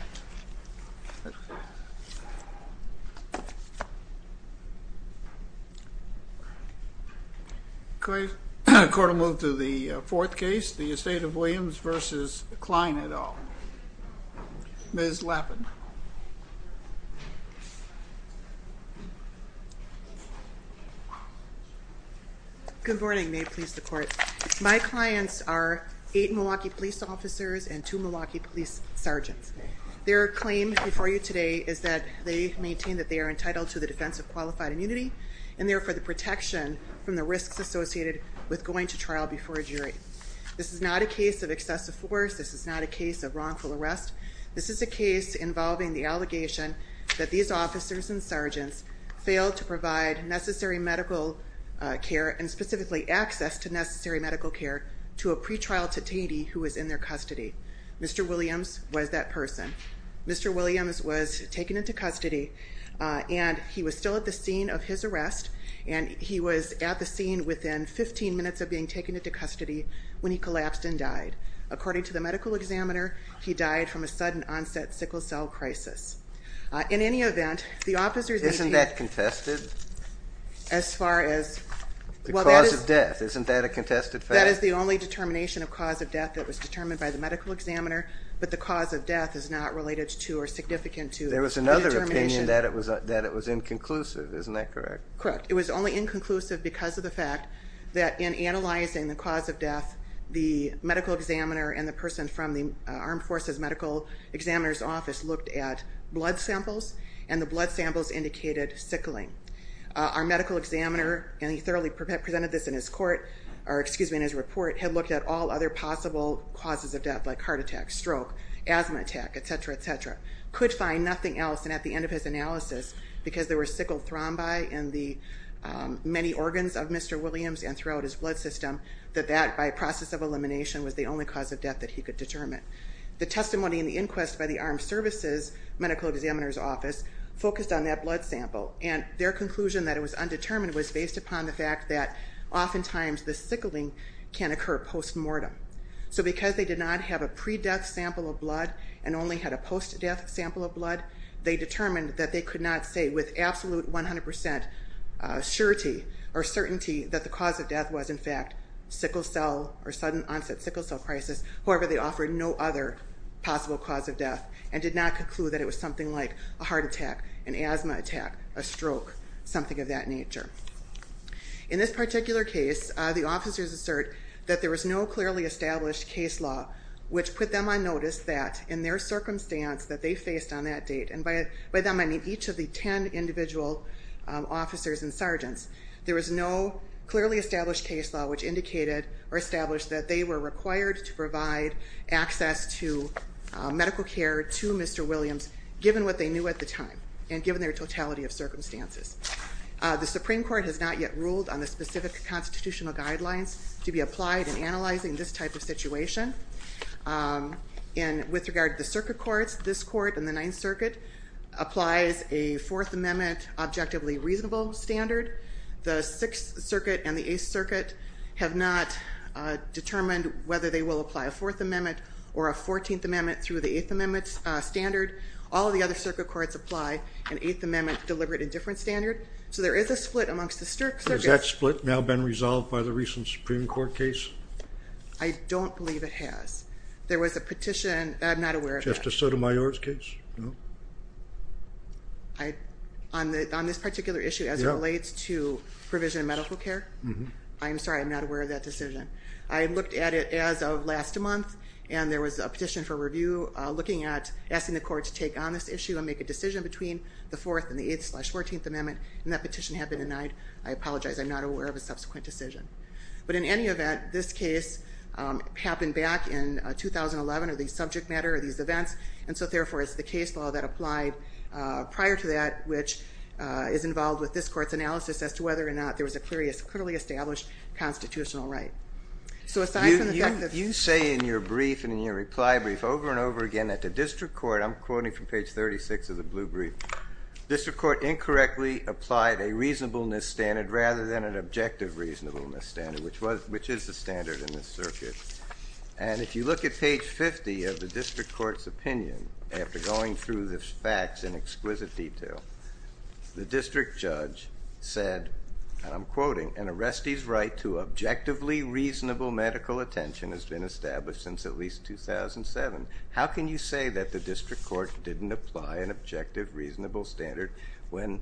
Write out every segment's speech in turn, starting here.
Good morning. May it please the court, my clients are eight Milwaukee police officers and two Milwaukee police sergeants. Their claim before you today is that they maintain that they are entitled to the defense of qualified immunity and therefore the protection from the risks associated with going to trial before a jury. This is not a case of excessive force. This is not a case of wrongful arrest. This is a case involving the allegation that these officers and sergeants failed to provide necessary medical care and specifically access to necessary medical care to a pretrial detainee who was in their custody. Mr. Williams was that person. Mr. Williams was taken into custody and he was still at the scene of his arrest and he was at the scene within 15 minutes of being taken into custody when he collapsed and died. According to the medical examiner, he died from a sudden onset sickle cell crisis. In any event, the officers... Isn't that contested? As far as... The cause of death, isn't that a contested fact? That is the only determination of cause of death that was determined by the medical examiner, but the cause of death is not related to or significant to... There was another opinion that it was inconclusive, isn't that correct? Correct. It was only inconclusive because of the fact that in analyzing the cause of death, the medical examiner and the blood samples indicated sickling. Our medical examiner, and he thoroughly presented this in his report, had looked at all other possible causes of death like heart attack, stroke, asthma attack, et cetera, et cetera. Could find nothing else and at the end of his analysis, because there were sickle thrombi in the many organs of Mr. Williams and throughout his blood system, that that by process of elimination was the only cause of death that he could determine, was focused on that blood sample. And their conclusion that it was undetermined was based upon the fact that oftentimes the sickling can occur post-mortem. So because they did not have a pre-death sample of blood and only had a post-death sample of blood, they determined that they could not say with absolute 100% surety or certainty that the cause of death was in fact sickle cell or sudden onset sickle cell crisis. However, they offered no other possible cause of death and did not conclude that it was something like a heart attack, an asthma attack, a stroke, something of that nature. In this particular case, the officers assert that there was no clearly established case law which put them on notice that in their circumstance that they faced on that date, and by that I mean each of the 10 individual officers and sergeants, there was no clearly established case law which indicated or established that they were required to provide access to medical care to Mr. Williams, given what they knew at the time and given their totality of circumstances. The Supreme Court has not yet ruled on the specific constitutional guidelines to be applied in analyzing this type of situation. And with regard to the circuit courts, this court and the 9th Circuit applies a 4th Amendment objectively reasonable standard. The 6th Circuit and the 8th Circuit have not determined whether they will apply a 4th Amendment or a 14th Amendment through the 8th Amendment standard. All of the other circuit courts apply an 8th Amendment deliberate and different standard. So there is a split amongst the circuits. Has that split now been resolved by the recent Supreme Court case? I don't believe it has. There was a petition, I'm not aware of that. Justice Sotomayor's case? No. On this particular issue as it relates to provision of medical care. I'm sorry, I'm not aware of that decision. I looked at it as of last month and there was a petition for review looking at, asking the court to take on this issue and make a decision between the 4th and the 8th slash 14th Amendment and that petition had been denied. I apologize, I'm not aware of a subsequent decision. But in any event, this case happened back in 2011 or the subject matter of these events and so therefore it's the case law that applied prior to that which is involved with this court's analysis as to whether or not there was a clearly established constitutional right. So aside from the fact that... You say in your brief and in your reply brief over and over again that the district court, I'm quoting from page 36 of the blue brief, district court incorrectly applied a reasonableness standard rather than an objective reasonableness standard, which is the standard in this circuit. And if you look at page 50 of the district court's opinion, after going through the facts in exquisite detail, the district judge said, and I'm quoting, an arrestee's right to objectively reasonable medical attention has been established since at least 2007. How can you say that the district court didn't apply an objective reasonable standard when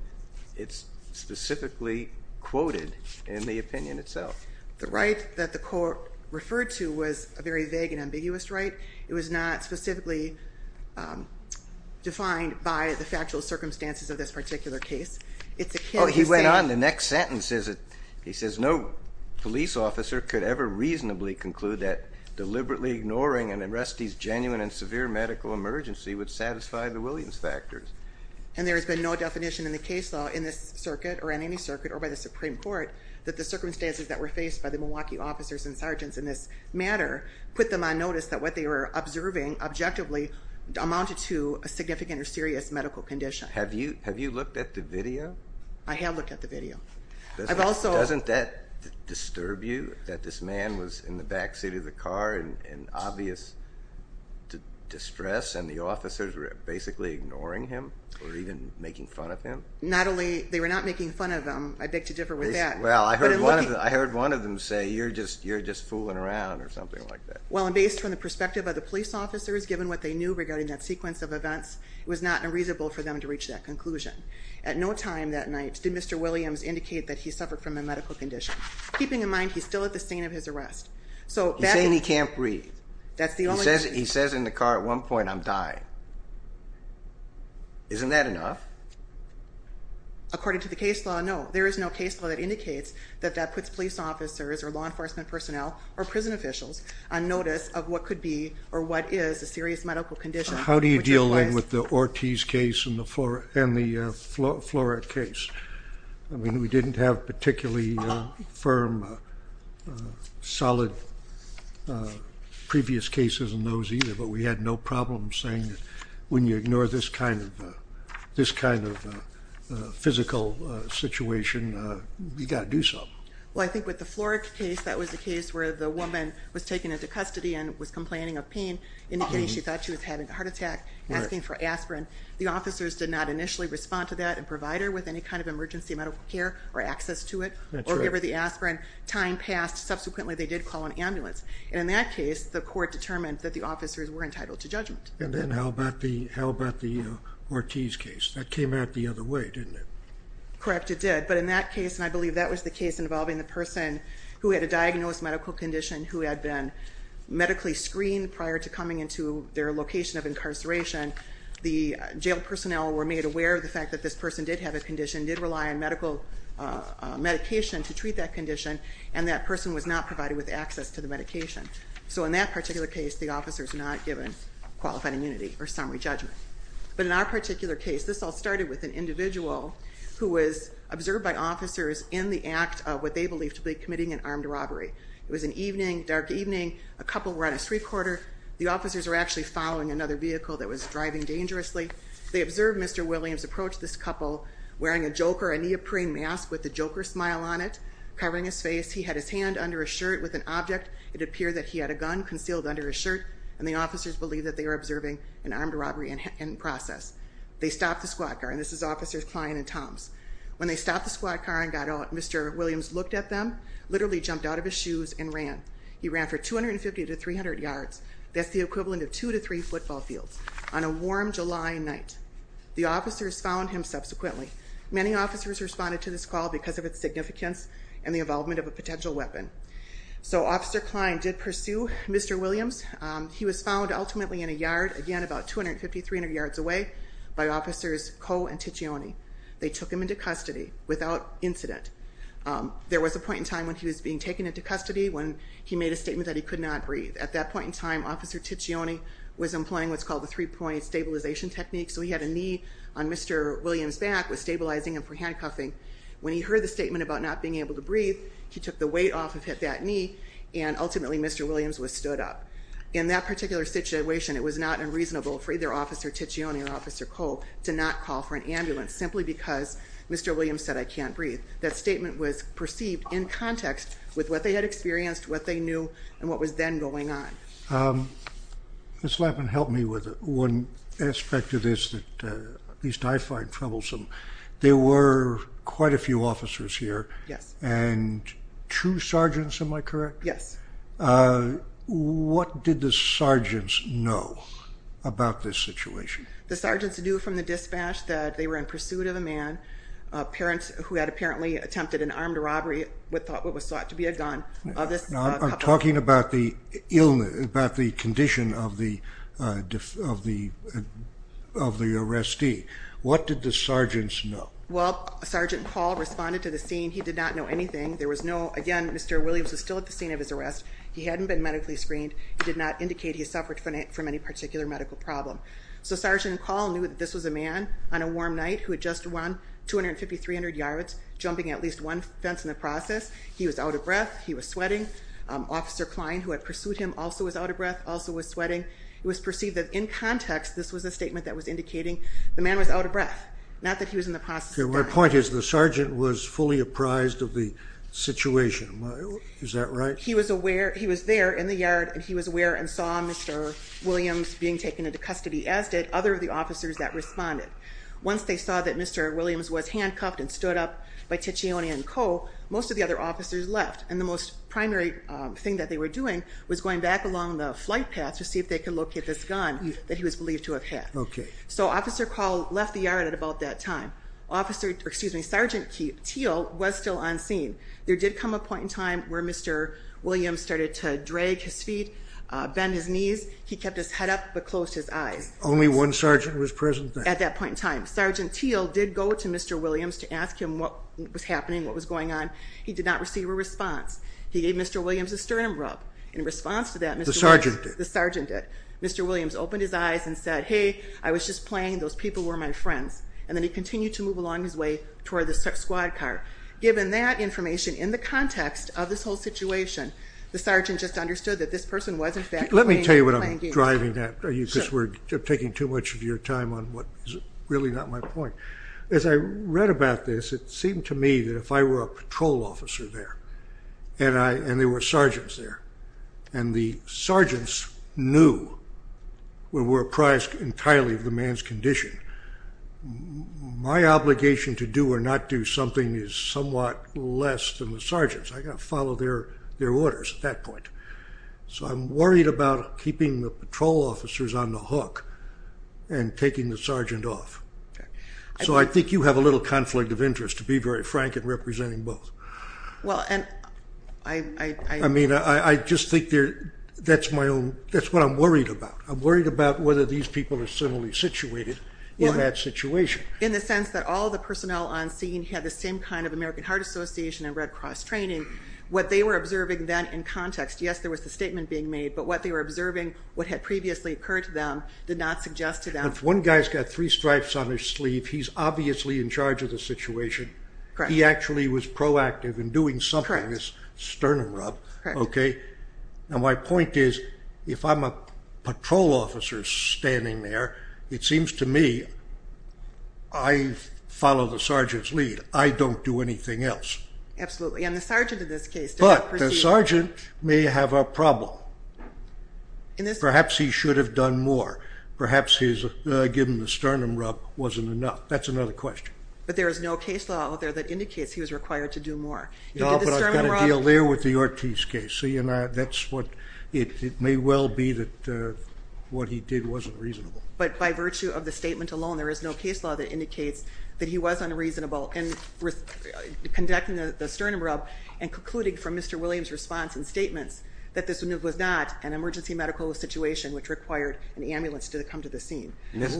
it's specifically quoted in the opinion itself? The right that the court referred to was a very vague and ambiguous right. It was not specifically defined by the factual circumstances of this particular case. It's a case... Oh, he went on in the next sentence. He says no police officer could ever reasonably conclude that deliberately ignoring an arrestee's genuine and severe medical emergency would satisfy the Williams factors. And there has been no definition in the case law in this circuit or in any circuit or by the Supreme Court that the circumstances that were faced by the Milwaukee officers and sergeants in this matter put them on notice that what they were observing objectively amounted to a significant or serious medical condition. Have you have you looked at the video? I have looked at the video. I've also... Doesn't that disturb you that this man was in the backseat of the car in obvious distress and the officers were basically ignoring him or even making fun of him? Not only... They were not making fun of him. I beg to differ with that. Well, I heard one of them say you're just you're just fooling around or something like that. Well, and based on the perspective of the police officers, given what they knew regarding that sequence of events, it was not unreasonable for them to reach that conclusion. At no time that night did Mr. Williams indicate that he suffered from a medical condition. Keeping in mind, he's still at the scene of his arrest. So... He's saying he can't breathe. That's the only... He says in the car at one point, I'm dying. Isn't that enough? According to the case law, no, there is no case law that indicates that that puts police officers or law enforcement personnel or prison officials on notice of what could be or what is a serious medical condition. How do you deal with the Ortiz case and the Flora case? I mean, we didn't have particularly firm, solid previous cases in those either, but we had no problem saying that when you ignore this kind of physical situation, you got to do something. Well, I think with the Flora case, that was the case where the woman was taken into custody and was complaining of pain, indicating she thought she was having a heart attack, asking for aspirin. The officers did not initially respond to that and provide her with any kind of emergency medical care or access to it. Or give her the aspirin. Time passed. Subsequently, they did call an ambulance. And in that case, the court determined that the officers were entitled to judgment. And then how about the Ortiz case? That came out the other way, didn't it? Correct, it did. But in that case, and I believe that was the case involving the person who had a diagnosed medical condition who had been medically screened prior to coming into their location of incarceration, the jail personnel were made aware of the fact that this person did have a condition, did rely on medical medication to treat that condition, and that person was not provided with access to the medication. So in that particular case, the jail personnel were made aware of the fact that this person did not have an immunity or summary judgment. But in our particular case, this all started with an individual who was observed by officers in the act of what they believed to be committing an armed robbery. It was an evening, dark evening. A couple were on a street corner. The officers were actually following another vehicle that was driving dangerously. They observed Mr. Williams approach this couple wearing a joker, a neoprene mask with a joker smile on it, covering his face. He had his hand under a shirt with an object. It appeared that he had a gun concealed under his shirt, and the officers believed that they were observing an armed robbery in process. They stopped the squad car, and this is Officers Klein and Toms. When they stopped the squad car and got out, Mr. Williams looked at them, literally jumped out of his shoes and ran. He ran for 250 to 300 yards. That's the equivalent of two to three football fields on a warm July night. The officers found him subsequently. Many officers responded to this call because of its significance and the involvement of a potential weapon. So Officer Klein did pursue Mr. Williams. He was found ultimately in a yard, again about 250 to 300 yards away, by Officers Coe and Ticcioni. They took him into custody without incident. There was a point in time when he was being taken into custody when he made a statement that he could not breathe. At that point in time, Officer Ticcioni was employing what's called the three-point stabilization technique. So he had a knee on Mr. Williams' back, was stabilizing him for handcuffing. When he heard the statement about not being able to breathe, he took the weight off and hit that knee, and ultimately Mr. Williams was stood up. In that particular situation, it was not unreasonable for either Officer Ticcioni or Officer Coe to not call for an ambulance simply because Mr. Williams said, I can't breathe. That statement was true. One aspect of this that at least I find troublesome, there were quite a few officers here and two sergeants, am I correct? Yes. What did the sergeants know about this situation? The sergeants knew from the dispatch that they were in pursuit of a man who had apparently attempted an armed robbery with what was thought to be a gun. I'm talking about the condition of the arrestee. What did the sergeants know? Well, Sergeant Paul responded to the scene. He did not know anything. Again, Mr. Williams was still at the scene of his arrest. He hadn't been medically screened. He did not indicate he suffered from any particular medical problem. So Sergeant Paul knew that this was a man on a warm night who had just run 250, 300 yards, jumping at least one fence in the process. He was out of breath. He was sweating. Officer Klein, who had pursued him, also was out of breath, also was sweating. It was perceived that in context, this was a statement that was indicating the man was out of breath, not that he was in the process of dying. My point is the sergeant was fully apprised of the situation. Is that right? He was there in the yard and he was aware and saw Mr. Williams being taken into custody, as did other of the officers that responded. Once they saw that Mr. Williams was handcuffed and stood up by Tichione and Co., most of the other officers left, and the most primary thing that they were doing was going back along the flight path to see if they could locate this gun that he was believed to have had. So Officer Paul left the yard at about that time. Sergeant Teal was still on scene. There did come a point in time where Mr. Williams started to drag his feet, bend his knees. He kept his head up but closed his eyes. Only one sergeant was present then? At that point in time. Sergeant Teal did go to Mr. Williams to ask him what was happening, what was going on. He did not receive a response. He gave Mr. Williams a sternum rub. In response to that, Mr. Williams... The sergeant did? The sergeant did. Mr. Williams opened his eyes and said, hey, I was just playing. Those people were my friends. And then he continued to move along his way toward the squad car. Given that information, in the context of this whole situation, the sergeant just understood that this person was in fact playing games. Let me tell you what I'm driving at, because we're taking too much of your time on what is really not my point. As I read about this, it seemed to me that if I were a patrol officer there, and there were sergeants there, and the sergeants knew we were apprised entirely of the man's condition, my obligation to do or not do something is somewhat less than the sergeants. I've got to follow their orders at that point. So I'm worried about keeping the patrol officers on the hook and taking the sergeant off. So I think you have a little conflict of interest, to be very frank, in representing both. I mean, I just think that's what I'm worried about. I'm worried about whether these people are similarly situated in that situation. In the sense that all the personnel on scene had the same kind of American Heart Association and Red Cross training. What they were observing then in context, yes, there was a statement being made, but what they were observing, what had previously occurred to them, did not suggest to them... If one guy's got three stripes on his sleeve, he's obviously in charge of the situation. He actually was proactive in doing something, this sternum rub. My point is, if I'm a patrol officer standing there, it seems to me I follow the sergeant's lead. I don't do anything else. Absolutely, and the sergeant in this case... The sergeant may have a problem. Perhaps he should have done more. Perhaps his, given the sternum rub, wasn't enough. That's another question. But there is no case law out there that indicates he was required to do more. No, but I've got to deal there with the Ortiz case. See, and that's what, it may well be that what he did wasn't reasonable. But by virtue of the statement alone, there is no case law that indicates that he was unreasonable in conducting the sternum rub and concluding from Mr. Williams' response and statements that this was not an emergency medical situation which required an ambulance to come to the scene. Ms.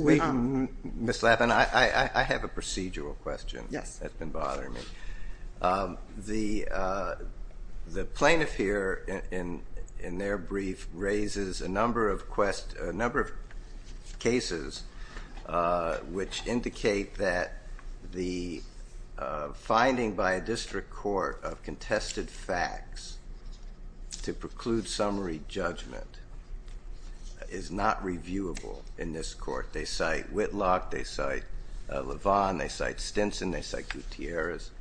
Lappin, I have a procedural question that's been bothering me. The plaintiff here, in their brief, raises a number of cases which indicate that the finding by a district court of contested facts to preclude summary judgment is not reviewable in this court. They cite Whitlock, they cite LeVon, they cite Stinson, they cite Gutierrez,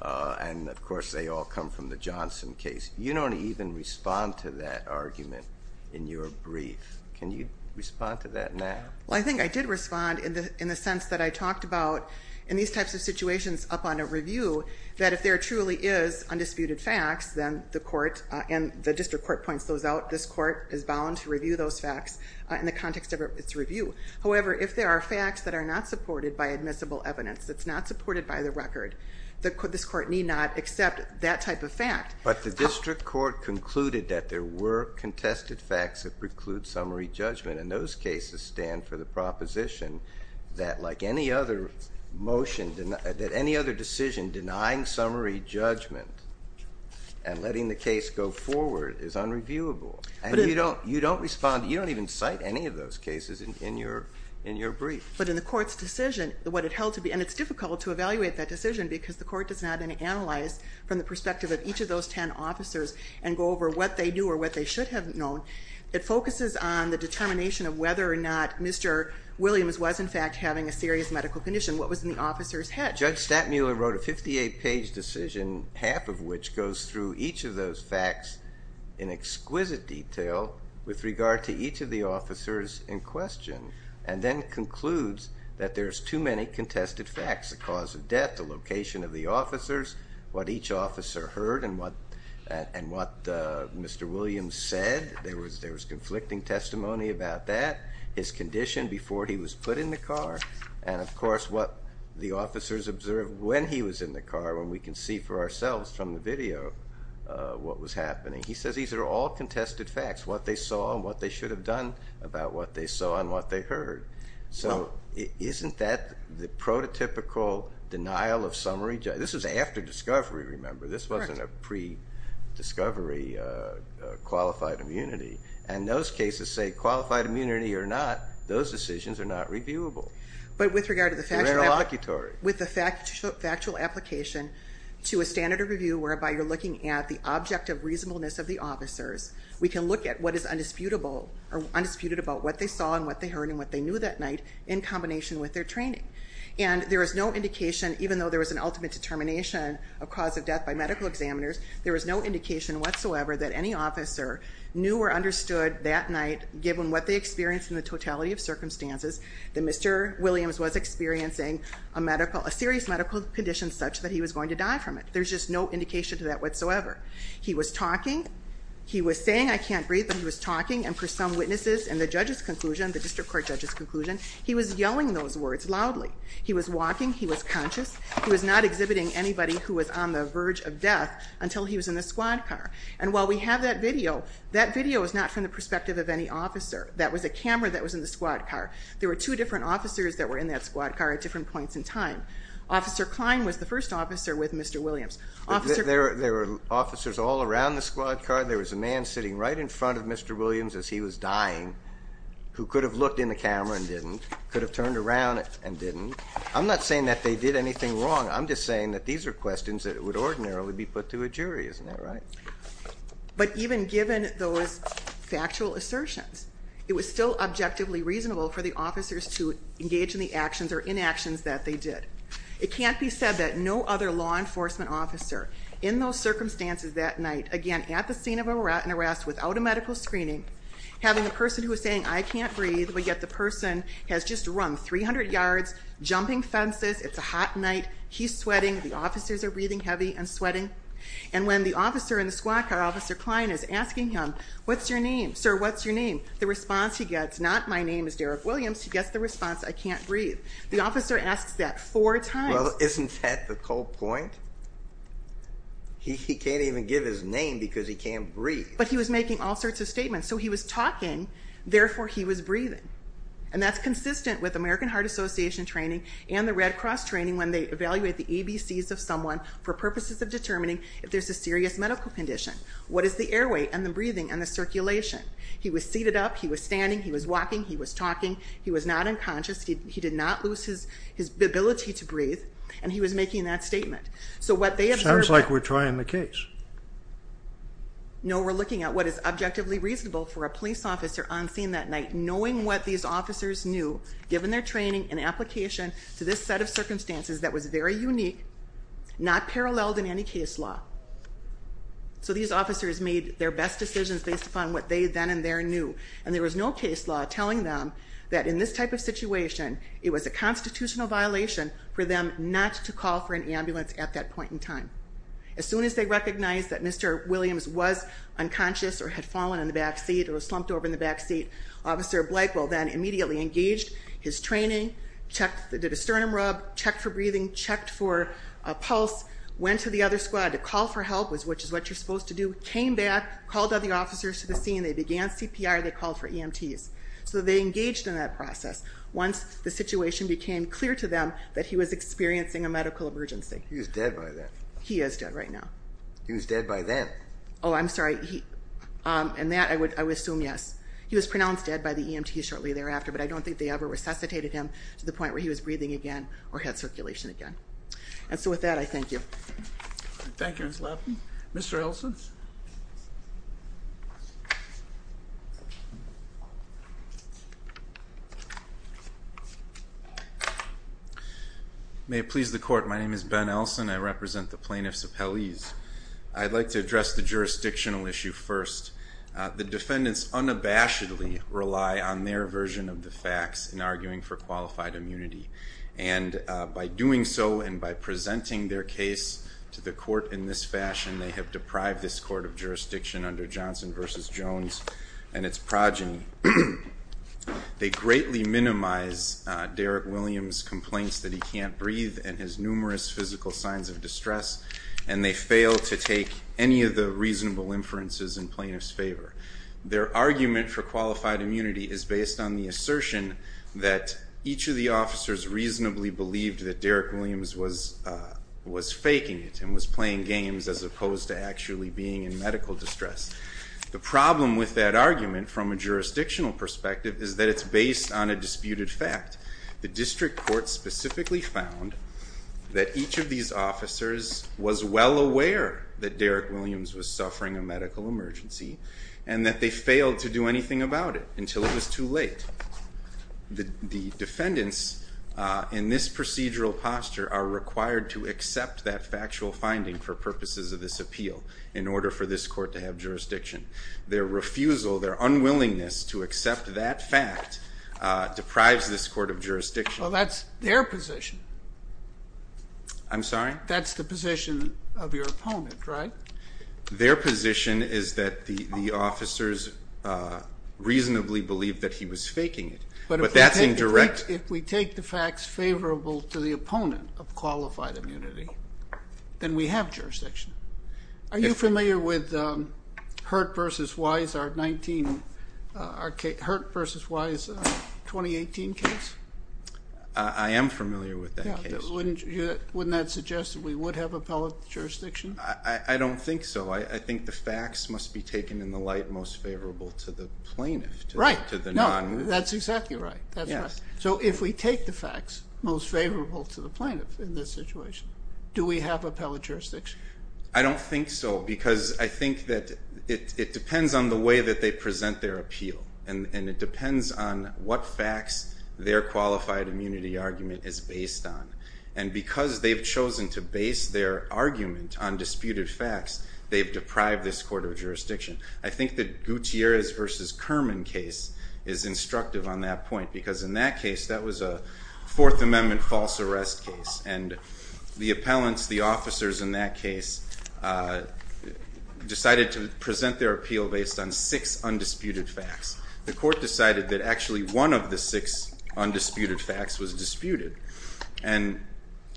and of course they all come from the Johnson case. You don't even respond to that argument in your brief. Can you respond to that now? Well, I think I did respond in the sense that I talked about in these types of situations upon a review that if there truly is undisputed facts, then the court and the district court points those out. This court is bound to review those facts in the context of its review. However, if there are facts that are not supported by admissible evidence, that's not supported by the record, this court need not accept that type of fact. But the district court concluded that there were contested facts that preclude summary judgment, and those cases stand for the proposition that like any other decision, denying summary judgment and letting the case go forward is unreviewable. You don't even cite any of those cases in your brief. But in the court's decision, what it held to be, and it's difficult to evaluate that decision because the court does not analyze from the perspective of each of those ten officers and go over what they do or what they should have known. It focuses on the determination of whether or not Mr. Williams was in fact having a serious medical condition, what was in the officer's head. Now Judge Stattmuller wrote a 58-page decision, half of which goes through each of those facts in exquisite detail with regard to each of the officers in question. And then concludes that there's too many contested facts, the cause of death, the location of the officers, what each officer heard and what Mr. Williams said. There was conflicting testimony about that, his condition before he was put in the car, and of course what the officers observed when he was in the car when we can see for ourselves from the video what was happening. He says these are all contested facts, what they saw and what they should have done about what they saw and what they heard. So isn't that the prototypical denial of summary judgment? This was after discovery, remember, this wasn't a pre-discovery qualified immunity. And those cases say qualified immunity or not, those decisions are not reviewable. But with regard to the factual application to a standard of review whereby you're looking at the object of reasonableness of the officers, we can look at what is undisputed about what they saw and what they heard and what they knew that night in combination with their training. And there is no indication, even though there was an ultimate determination of cause of death by medical examiners, there was no indication whatsoever that any officer knew or understood that night, given what they experienced in the totality of circumstances, that Mr. Williams was experiencing a serious medical condition such that he was going to die from it. There's just no indication to that whatsoever. He was talking, he was saying, I can't breathe, but he was talking. And for some witnesses and the judge's conclusion, the district court judge's conclusion, he was yelling those words loudly. He was walking, he was conscious, he was not exhibiting anybody who was on the verge of death until he was in the squad car. And while we have that video, that video is not from the perspective of any officer. That was a camera that was in the squad car. There were two different officers that were in that squad car at different points in time. Officer Klein was the first officer with Mr. Williams. There were officers all around the squad car. There was a man sitting right in front of Mr. Williams as he was dying who could have looked in the camera and didn't, could have turned around and didn't. I'm not saying that they did anything wrong. I'm just saying that these are questions that would ordinarily be put to a jury. Isn't that right? But even given those factual assertions, it was still objectively reasonable for the officers to engage in the actions or inactions that they did. It can't be said that no other law enforcement officer in those circumstances that night, again, at the scene of an arrest without a medical screening, having a person who is saying, I can't breathe, but yet the person has just run 300 yards, jumping fences. It's a hot night. He's sweating. The officers are breathing heavy and sweating. And when the officer in the squad car, Officer Klein, is asking him, what's your name? Sir, what's your name? The response he gets, not my name is Derrick Williams, he gets the response, I can't breathe. The officer asks that four times. Well, isn't that the whole point? He can't even give his name because he can't breathe. But he was making all sorts of statements. So he was talking, therefore he was breathing. And that's consistent with American Heart Association training and the Red Cross training when they evaluate the ABCs of someone for purposes of determining if there's a serious medical condition. What is the airway and the breathing and the circulation? He was seated up. He was standing. He was walking. He was talking. He was not unconscious. He did not lose his ability to breathe. And he was making that statement. Sounds like we're trying the case. No, we're looking at what is objectively reasonable for a police officer on scene that night, knowing what these officers knew, given their training and application to this set of circumstances that was very unique, not paralleled in any case law. So these officers made their best decisions based upon what they then and there knew. And there was no case law telling them that in this type of situation, it was a constitutional violation for them not to call for an ambulance at that point in time. As soon as they recognized that Mr. Williams was unconscious or had fallen in the backseat or was slumped over in the backseat, Officer Blakewell then immediately engaged his training, did a sternum rub, checked for breathing, checked for a pulse, went to the other squad to call for help, which is what you're supposed to do, came back, called all the officers to the scene. They began CPR. They called for EMTs. So they engaged in that process. Once the situation became clear to them that he was experiencing a medical emergency. He was dead by then. He is dead right now. He was dead by then. Oh, I'm sorry. And that, I would assume, yes. He was pronounced dead by the EMT shortly thereafter. But I don't think they ever resuscitated him to the point where he was breathing again or had circulation again. And so with that, I thank you. Thank you, Ms. Lapham. Mr. Elson? May it please the Court, my name is Ben Elson. I represent the Plaintiffs Appellees. I'd like to address the jurisdictional issue first. The defendants unabashedly rely on their version of the facts in arguing for qualified immunity. And by doing so and by presenting their case to the Court in this fashion, they have deprived this Court of jurisdiction under Johnson v. Jones and its progeny. They greatly minimize Derek Williams' complaints that he can't breathe and his numerous physical signs of distress. And they fail to take any of the reasonable inferences in plaintiffs' favor. Their argument for qualified immunity is based on the assertion that each of the officers reasonably believed that Derek Williams was faking it and was playing games as opposed to actually being in medical distress. The problem with that argument from a jurisdictional perspective is that it's based on a disputed fact. The District Court specifically found that each of these officers was well aware that Derek Williams was suffering a stroke and that they failed to do anything about it until it was too late. The defendants in this procedural posture are required to accept that factual finding for purposes of this appeal in order for this Court to have jurisdiction. Their refusal, their unwillingness to accept that fact deprives this Court of jurisdiction. Well, that's their position. I'm sorry? That's the position of your opponent, right? Their position is that the officers reasonably believed that he was faking it. But that's indirect. If we take the facts favorable to the opponent of qualified immunity, then we have jurisdiction. Are you familiar with Hurt v. Wise, our Hurt v. Wise 2018 case? I am familiar with that case. Wouldn't that suggest that we would have appellate jurisdiction? I don't think so. I think the facts must be taken in the light most favorable to the plaintiff. Right. No, that's exactly right. That's right. So if we take the facts most favorable to the plaintiff in this situation, do we have appellate jurisdiction? I don't think so because I think that it depends on the way that they present their appeal. And it depends on what facts their qualified immunity argument is based on. And because they've chosen to base their argument on disputed facts, they've deprived this court of jurisdiction. I think that Gutierrez v. Kerman case is instructive on that point because in that case, that was a Fourth Amendment false arrest case. And the appellants, the officers in that case, decided to present their appeal based on six undisputed facts. The court decided that actually one of the six undisputed facts was disputed. And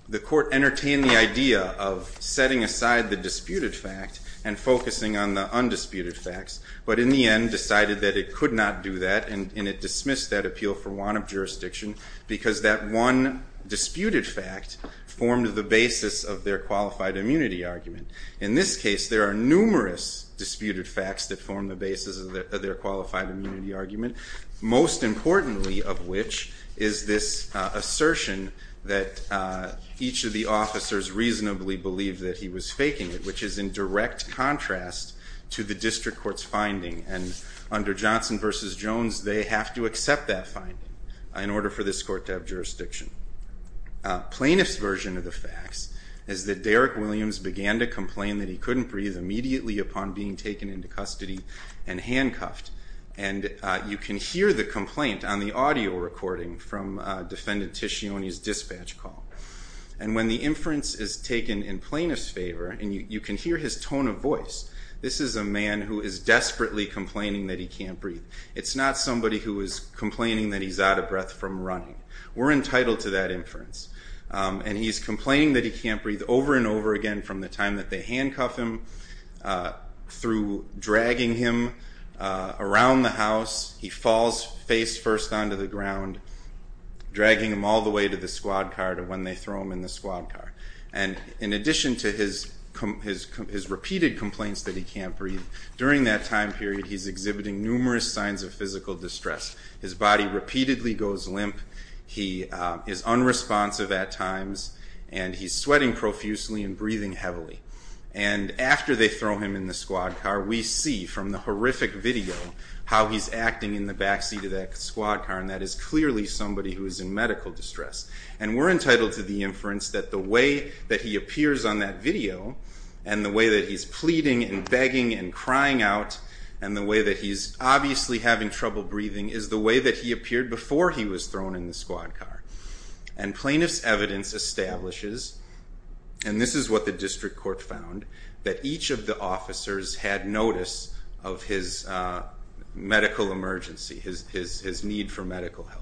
the court entertained the idea of setting aside the disputed fact and focusing on the undisputed facts, but in the end decided that it could not do that and it dismissed that appeal for want of jurisdiction because that one disputed fact formed the basis of their qualified immunity argument. In this case, there are numerous disputed facts that form the basis of their qualified immunity argument, most importantly of which is this assertion that each of the officers reasonably believed that he was faking it, which is in direct contrast to the district court's finding. And under Johnson v. Jones, they have to accept that finding in order for this court to have jurisdiction. Plaintiff's version of the facts is that Derrick Williams began to complain that he couldn't breathe immediately upon being taken into custody and handcuffed, and you can hear the complaint on the audio recording from Defendant Ticcioni's dispatch call. And when the inference is taken in plaintiff's favor, and you can hear his tone of voice, this is a man who is desperately complaining that he can't breathe. It's not somebody who is complaining that he's out of breath from running. We're entitled to that inference. And he's complaining that he can't breathe over and over again from the time that they handcuff him, through dragging him around the house. He falls face first onto the ground, dragging him all the way to the squad car to when they throw him in the squad car. And in addition to his repeated complaints that he can't breathe, during that time period he's exhibiting numerous signs of physical distress. His body repeatedly goes limp. He is unresponsive at times, and he's sweating profusely and breathing heavily. And after they throw him in the squad car, we see from the horrific video how he's acting in the backseat of that squad car, and that is clearly somebody who is in medical distress. And we're entitled to the inference that the way that he appears on that video, and the way that he's pleading and begging and crying out, and the way that he's obviously having trouble breathing, is the way that he appeared before he was thrown in the squad car. And plaintiff's evidence establishes, and this is what the district court found, that each of the officers had notice of his medical emergency, his need for medical help.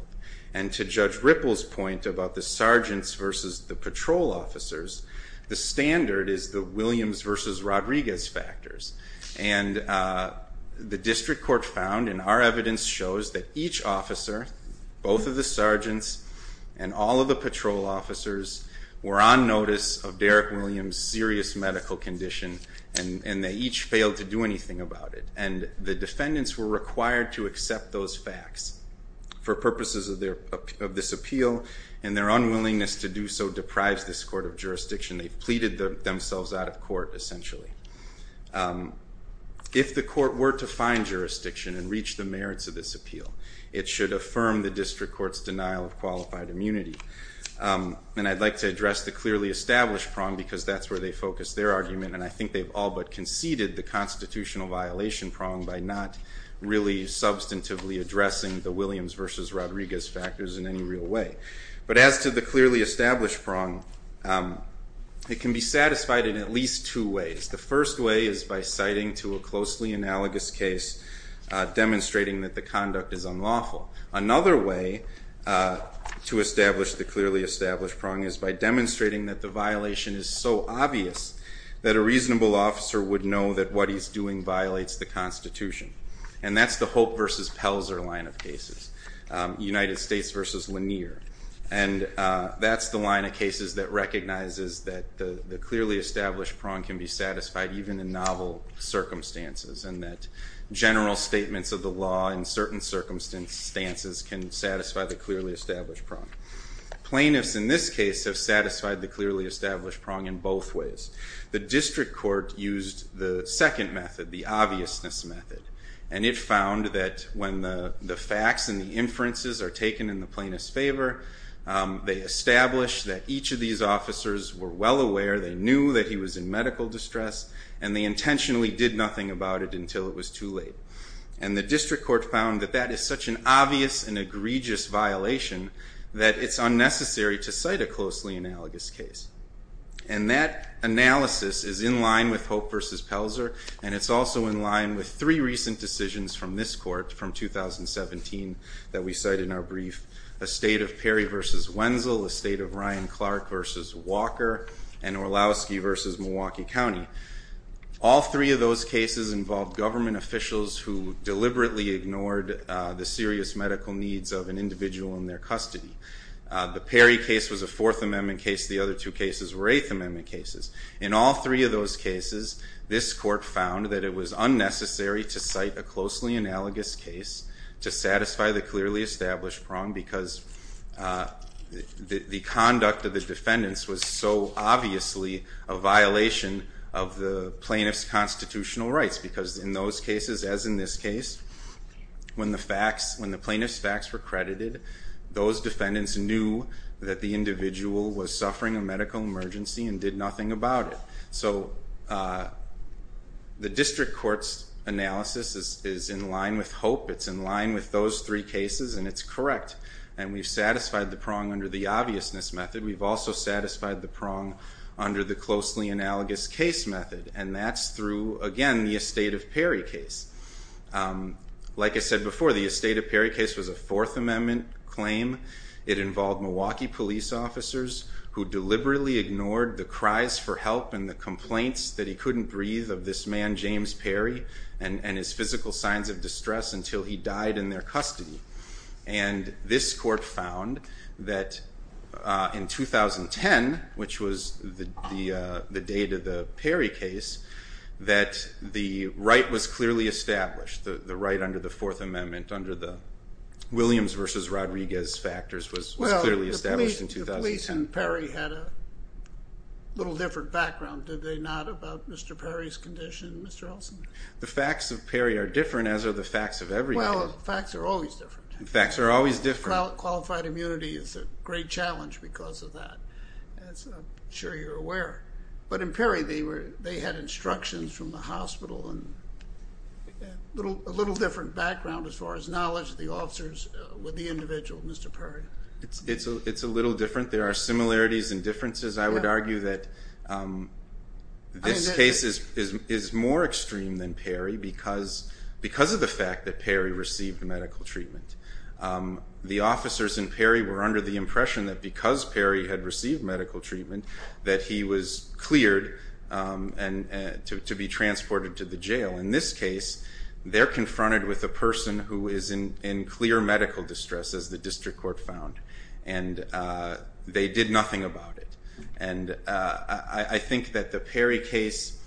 And to Judge Ripple's point about the sergeants versus the patrol officers, the standard is the Williams versus Rodriguez factors. And the district court found, and our evidence shows, that each officer, both of the sergeants, and all of the patrol officers were on notice of Derrick Williams' serious medical condition, and they each failed to do anything about it. And the defendants were required to accept those facts for purposes of this appeal, and their unwillingness to do so deprives this court of jurisdiction. They've pleaded themselves out of court, essentially. If the court were to find jurisdiction and reach the merits of this appeal, it should affirm the district court's denial of qualified immunity. And I'd like to address the clearly established prong, because that's where they focus their argument, and I think they've all but conceded the constitutional violation prong by not really substantively addressing the Williams versus Rodriguez factors in any real way. But as to the clearly established prong, it can be satisfied in at least two ways. The first way is by citing to a closely analogous case, demonstrating that the conduct is unlawful. Another way to establish the clearly established prong is by demonstrating that the violation is so obvious that a reasonable officer would know that what he's doing violates the Constitution. And that's the Hope versus Pelzer line of cases, United States versus Lanier. And that's the line of cases that recognizes that the clearly established prong can be satisfied, even in novel circumstances, and that general statements of the law in certain circumstances can satisfy the clearly established prong. Plaintiffs in this case have satisfied the clearly established prong in both ways. The district court used the second method, the obviousness method, and it found that when the facts and the inferences are taken in the plaintiff's favor, they establish that each of these officers were well aware, they knew that he was in medical distress, and they intentionally did nothing about it until it was too late. And the district court found that that is such an obvious and egregious violation that it's unnecessary to cite a closely analogous case. And that analysis is in line with Hope versus Pelzer, and it's also in line with three recent decisions from this court from 2017 that we cite in our brief, a state of Perry versus Wenzel, a state of Ryan Clark versus Walker, and Orlowski versus Milwaukee County. All three of those cases involved government officials who deliberately ignored the serious medical needs of an individual in their custody. The Perry case was a Fourth Amendment case. The other two cases were Eighth Amendment cases. In all three of those cases, this court found that it was unnecessary to cite a closely analogous case to satisfy the clearly established prong because the conduct of the defendants was so obviously a violation of the plaintiff's constitutional rights because in those cases, as in this case, when the plaintiff's facts were credited, those defendants knew that the individual was suffering a medical emergency and did nothing about it. So the district court's analysis is in line with Hope. It's in line with those three cases, and it's correct. And we've satisfied the prong under the obviousness method. We've also satisfied the prong under the closely analogous case method, and that's through, again, the Estate of Perry case. Like I said before, the Estate of Perry case was a Fourth Amendment claim. It involved Milwaukee police officers who deliberately ignored the cries for help and the complaints that he couldn't breathe of this man, James Perry, and his physical signs of distress until he died in their custody. And this court found that in 2010, which was the date of the Perry case, that the right was clearly established, the right under the Fourth Amendment under the Williams v. Rodriguez factors was clearly established in 2010. Well, the police in Perry had a little different background, did they not, about Mr. Perry's condition and Mr. Elson's? The facts of Perry are different, as are the facts of every case. Well, facts are always different. Facts are always different. Qualified immunity is a great challenge because of that. I'm sure you're aware. But in Perry, they had instructions from the hospital and a little different background as far as knowledge of the officers with the individual, Mr. Perry. It's a little different. There are similarities and differences. I would argue that this case is more extreme than Perry because of the fact that Perry received medical treatment. The officers in Perry were under the impression that because Perry had received medical treatment, that he was cleared to be transported to the jail. In this case, they're confronted with a person who is in clear medical distress, as the district court found, and they did nothing about it. I think that the Perry case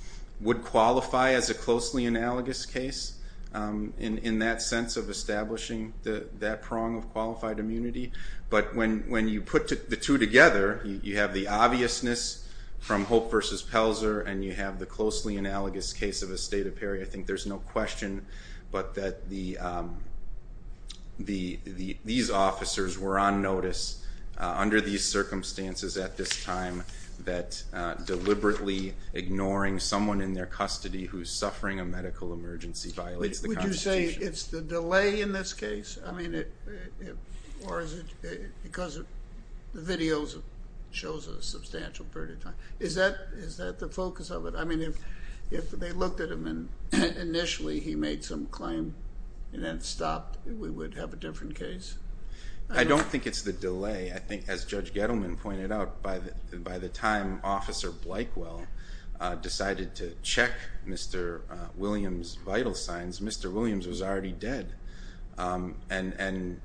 would qualify as a closely analogous case in that sense of establishing that prong of qualified immunity. But when you put the two together, you have the obviousness from Hope v. Pelzer and you have the closely analogous case of a state of Perry, I think there's no question but that these officers were on notice under these circumstances at this time that deliberately ignoring someone in their custody who's suffering a medical emergency violates the Constitution. Would you say it's the delay in this case? I mean, or is it because the video shows a substantial period of time? Is that the focus of it? I mean, if they looked at him and initially he made some claim and then stopped, we would have a different case? I don't think it's the delay. I think, as Judge Gettleman pointed out, by the time Officer Blykewell decided to check Mr. Williams' vital signs, Mr. Williams was already dead. And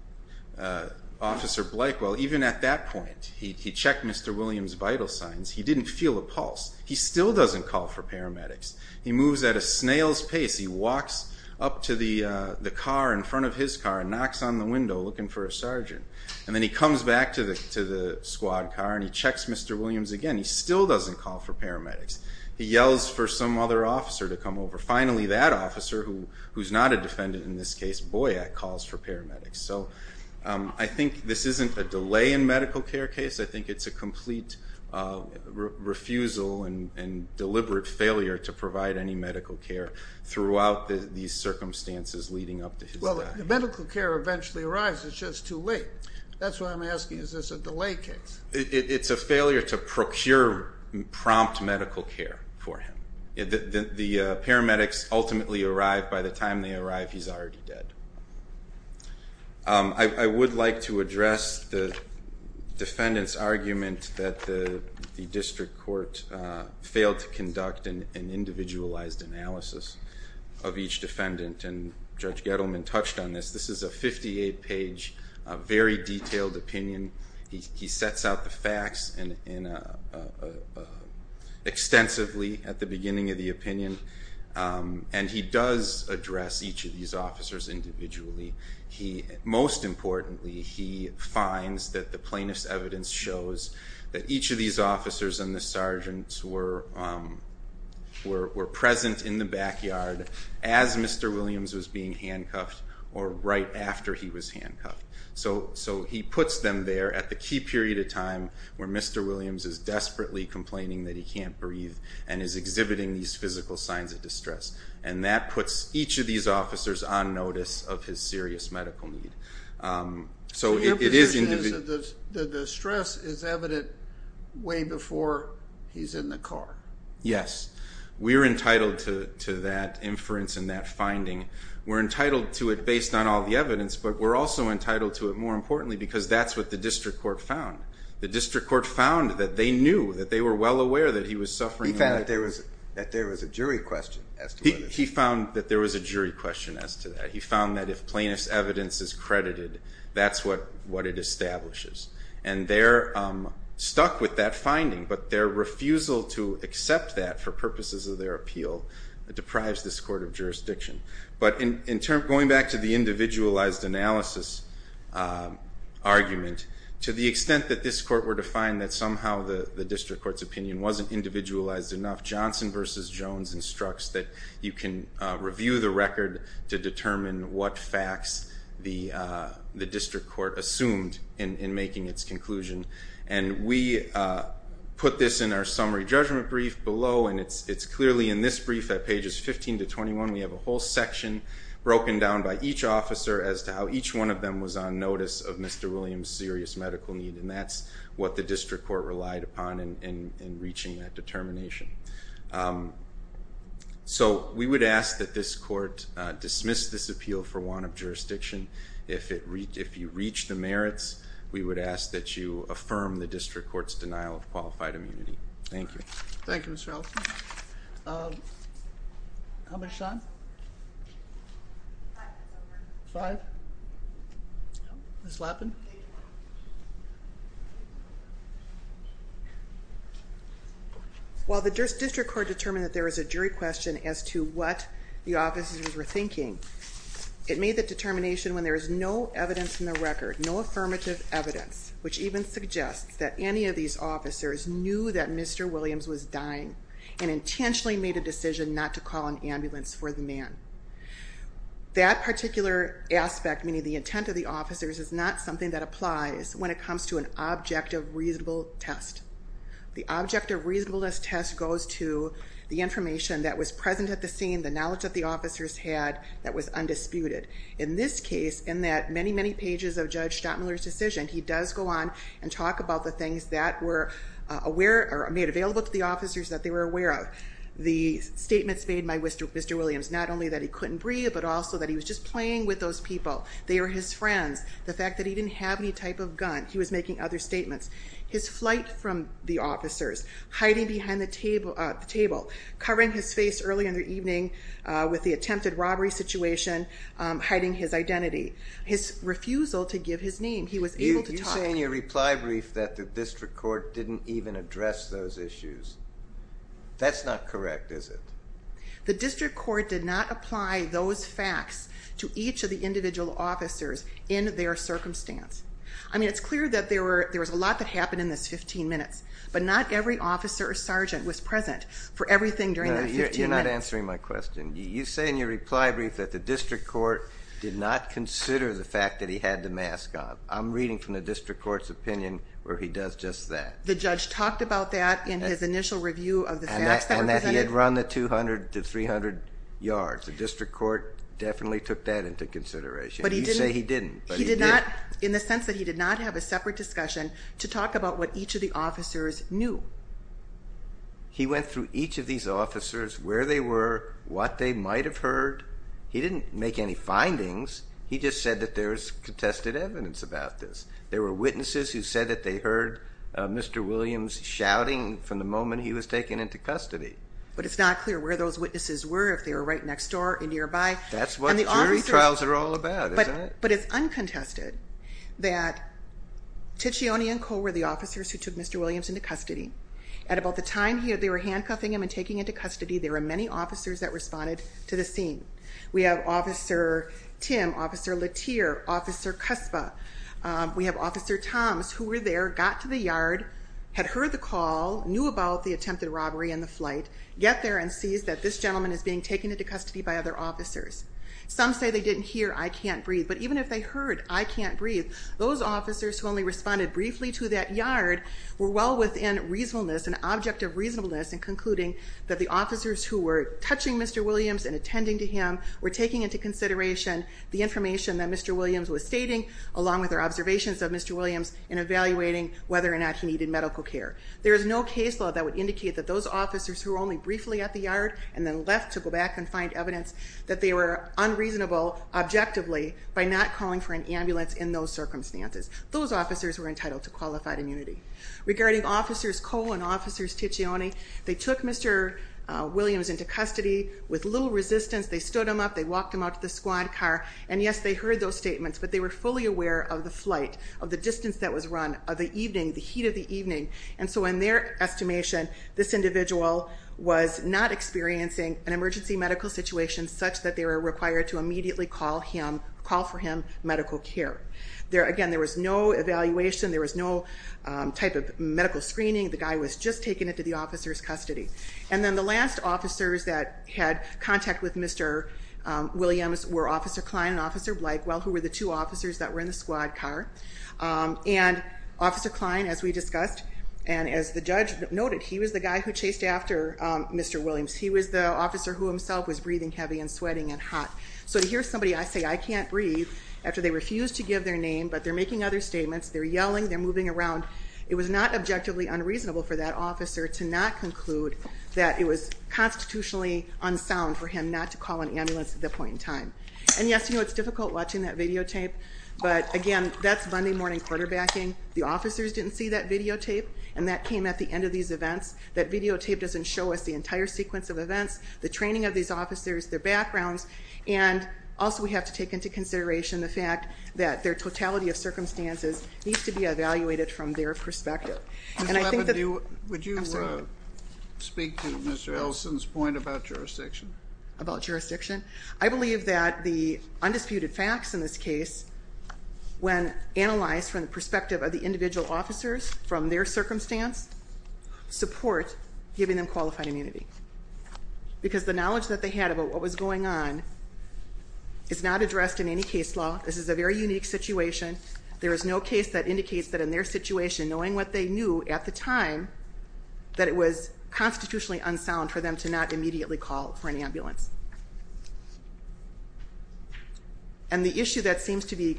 Officer Blykewell, even at that point, he checked Mr. Williams' vital signs. He didn't feel a pulse. He still doesn't call for paramedics. He moves at a snail's pace. He walks up to the car in front of his car and knocks on the window, looking for a sergeant. And then he comes back to the squad car and he checks Mr. Williams again. He still doesn't call for paramedics. He yells for some other officer to come over. Finally, that officer, who's not a defendant in this case, Boyack, calls for paramedics. So I think this isn't a delay in medical care case. I think it's a complete refusal and deliberate failure to provide any medical care throughout these circumstances leading up to his death. Well, the medical care eventually arrives. It's just too late. That's what I'm asking. Is this a delay case? It's a failure to procure prompt medical care for him. The paramedics ultimately arrive. By the time they arrive, he's already dead. I would like to address the defendant's argument that the district court failed to conduct an individualized analysis of each defendant, and Judge Gettleman touched on this. This is a 58-page, very detailed opinion. He sets out the facts extensively at the beginning of the opinion, and he does address each of these officers individually. Most importantly, he finds that the plaintiff's evidence shows that each of these handcuffed or right after he was handcuffed. So he puts them there at the key period of time where Mr. Williams is desperately complaining that he can't breathe and is exhibiting these physical signs of distress. And that puts each of these officers on notice of his serious medical need. So it is individual. The stress is evident way before he's in the car. Yes. We're entitled to that inference and that finding. We're entitled to it based on all the evidence, but we're also entitled to it, more importantly, because that's what the district court found. The district court found that they knew, that they were well aware that he was suffering. He found that there was a jury question as to whether there was. He found that there was a jury question as to that. He found that if plaintiff's evidence is credited, that's what it establishes. And they're stuck with that finding, but their refusal to accept that for purposes of their appeal deprives this court of jurisdiction. But going back to the individualized analysis argument, to the extent that this court were to find that somehow the district court's opinion wasn't individualized enough, Johnson v. Jones instructs that you can review the record to determine what facts the district court assumed in making its conclusion. And we put this in our summary judgment brief below, and it's clearly in this brief at pages 15 to 21. We have a whole section broken down by each officer as to how each one of them was on notice of Mr. Williams' serious medical need, and that's what the district court relied upon in reaching that determination. So we would ask that this court dismiss this appeal for want of jurisdiction. If you reach the merits, we would ask that you affirm the district court's denial of qualified immunity. Thank you. Thank you, Mr. Allison. How much time? Five. Five? No. Ms. Lappin. While the district court determined that there was a jury question as to what the officers were thinking, it made the determination when there is no evidence in the record, no affirmative evidence, which even suggests that any of these officers knew that Mr. Williams was dying and intentionally made a decision not to call an ambulance for the man. That particular aspect, meaning the intent of the officers is not something that applies when it comes to an objective reasonable test. The objective reasonableness test goes to the information that was present at the scene, the knowledge that the officers had that was undisputed. In this case, in that many, many pages of Judge Stottmuller's decision, he does go on and talk about the things that were made available to the officers that they were aware of. The statements made by Mr. Williams, not only that he couldn't breathe, but also that he was just playing with those people. They were his friends. The fact that he didn't have any type of gun. He was making other statements. His flight from the officers, hiding behind the table, covering his face early in the evening with the attempted robbery situation, hiding his identity, his refusal to give his name. He was able to talk. You say in your reply brief that the district court didn't even address those issues. That's not correct, is it? The district court did not apply those facts to each of the individual officers in their circumstance. I mean, it's clear that there were, there was a lot that happened in this 15 minutes, but not every officer or sergeant was present for everything during that 15 minutes. You're not answering my question. You say in your reply brief that the district court did not consider the fact that he had the mask on. I'm reading from the district court's opinion where he does just that. The judge talked about that in his initial review of the facts that represented. And that he had run the 200 to 300 yards. The district court definitely took that into consideration. You say he didn't, but he did. He did not in the sense that he did not have a separate discussion to talk about what each of the officers knew. He went through each of these officers, where they were, what they might've heard. He didn't make any findings. He just said that there's contested evidence about this. There were witnesses who said that they heard Mr. Williams shouting from the moment he was taken into custody. But it's not clear where those witnesses were, if they were right next door or nearby. That's what jury trials are all about, isn't it? But it's uncontested that Ticcioni and Cole were the officers who took Mr. Williams into custody. At about the time they were handcuffing him and taking him into custody, there were many officers that responded to the scene. We have Officer Tim, Officer Latier, Officer Cuspa. We have Officer Toms, who were there, got to the yard, had heard the call, knew about the attempted robbery and the flight, get there and sees that this gentleman is being taken into custody by other officers. Some say they didn't hear, I can't breathe. But even if they heard, I can't breathe, those officers who only responded briefly to that yard were well within reasonableness, an object of reasonableness in concluding that the officers who were touching Mr. Williams and attending to him were taking into consideration the information that Mr. Williams was stating, along with our observations of Mr. Williams in evaluating whether or not he needed medical care. There is no case law that would indicate that those officers who were only briefly at the yard and then left to go back and find evidence that they were unreasonable, objectively, by not calling for an ambulance in those circumstances. Those officers were entitled to qualified immunity. Regarding Officers Cole and Officers Ticcioni, they took Mr. Williams into custody with little resistance. They stood him up, they walked him out to the squad car. And yes, they heard those statements, but they were fully aware of the flight, of the distance that was run, of the evening, the heat of the evening. And so in their estimation, this individual was not experiencing an emergency medical situation such that they were required to immediately call him, call for him medical care. Again, there was no evaluation. There was no type of medical screening. The guy was just taken into the officer's custody. And then the last officers that had contact with Mr. Williams were Officer Klein and Officer Blakewell, who were the two officers that were in the squad car. And Officer Klein, as we discussed, and as the judge noted, he was the guy who chased after Mr. Williams. He was the officer who himself was breathing heavy and sweating and hot. So to hear somebody, I say, I can't breathe after they refuse to give their name, but they're making other statements. They're yelling, they're moving around. It was not objectively unreasonable for that officer to not conclude that it was constitutionally unsound for him not to call an ambulance at that point in time. And yes, you know, it's difficult watching that videotape, but again, that's Monday morning quarterbacking. The officers didn't see that videotape and that came at the end of these events. That videotape doesn't show us the entire sequence of events, the training of these officers, their backgrounds. And also we have to take into consideration the fact that their totality of circumstances needs to be evaluated from their perspective. And I think that... Would you speak to Mr. Elson's point about jurisdiction? About jurisdiction? I believe that the undisputed facts in this case, when analyzed from the perspective of the individual officers, from their circumstance, support giving them qualified immunity. Because the knowledge that they had about what was going on is not addressed in any case law. This is a very unique situation. There is no case that indicates that in their situation, knowing what they knew at the time, that it was constitutionally unsound for them to not immediately call for an ambulance. And the issue that seems to be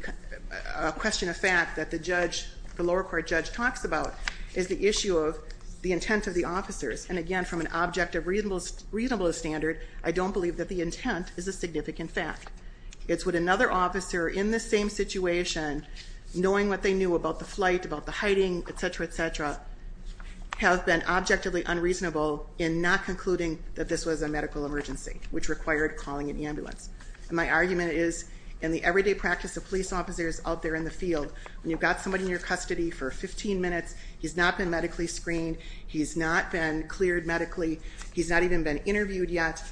a question of fact that the judge, the lower court judge, talks about is the issue of the intent of the officers. And again, from an objective reasonable standard, I don't believe that the intent is a significant fact. It's what another officer in the same situation, knowing what they knew about the flight, about the hiding, et cetera, et cetera, have been objectively unreasonable in not concluding that this was a medical emergency. Which required calling an ambulance. And my argument is in the everyday practice of police officers out there in the field, when you've got somebody in your custody for 15 minutes, he's not been medically screened. He's not been cleared medically. He's not even been interviewed yet.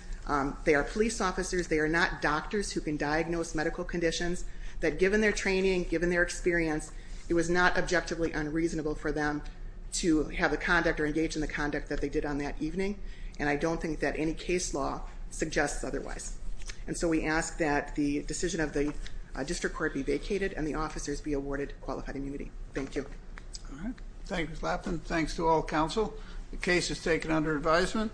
They are police officers. They are not doctors who can diagnose medical conditions that given their training, given their experience, it was not objectively unreasonable for them to have a conduct or engage in the conduct that they did on that evening. And I don't think that any case law suggests otherwise. And so we ask that the decision of the district court be vacated and the officers be awarded qualified immunity. Thank you. All right. Thank you. Thanks to all counsel. The case is taken under advisement.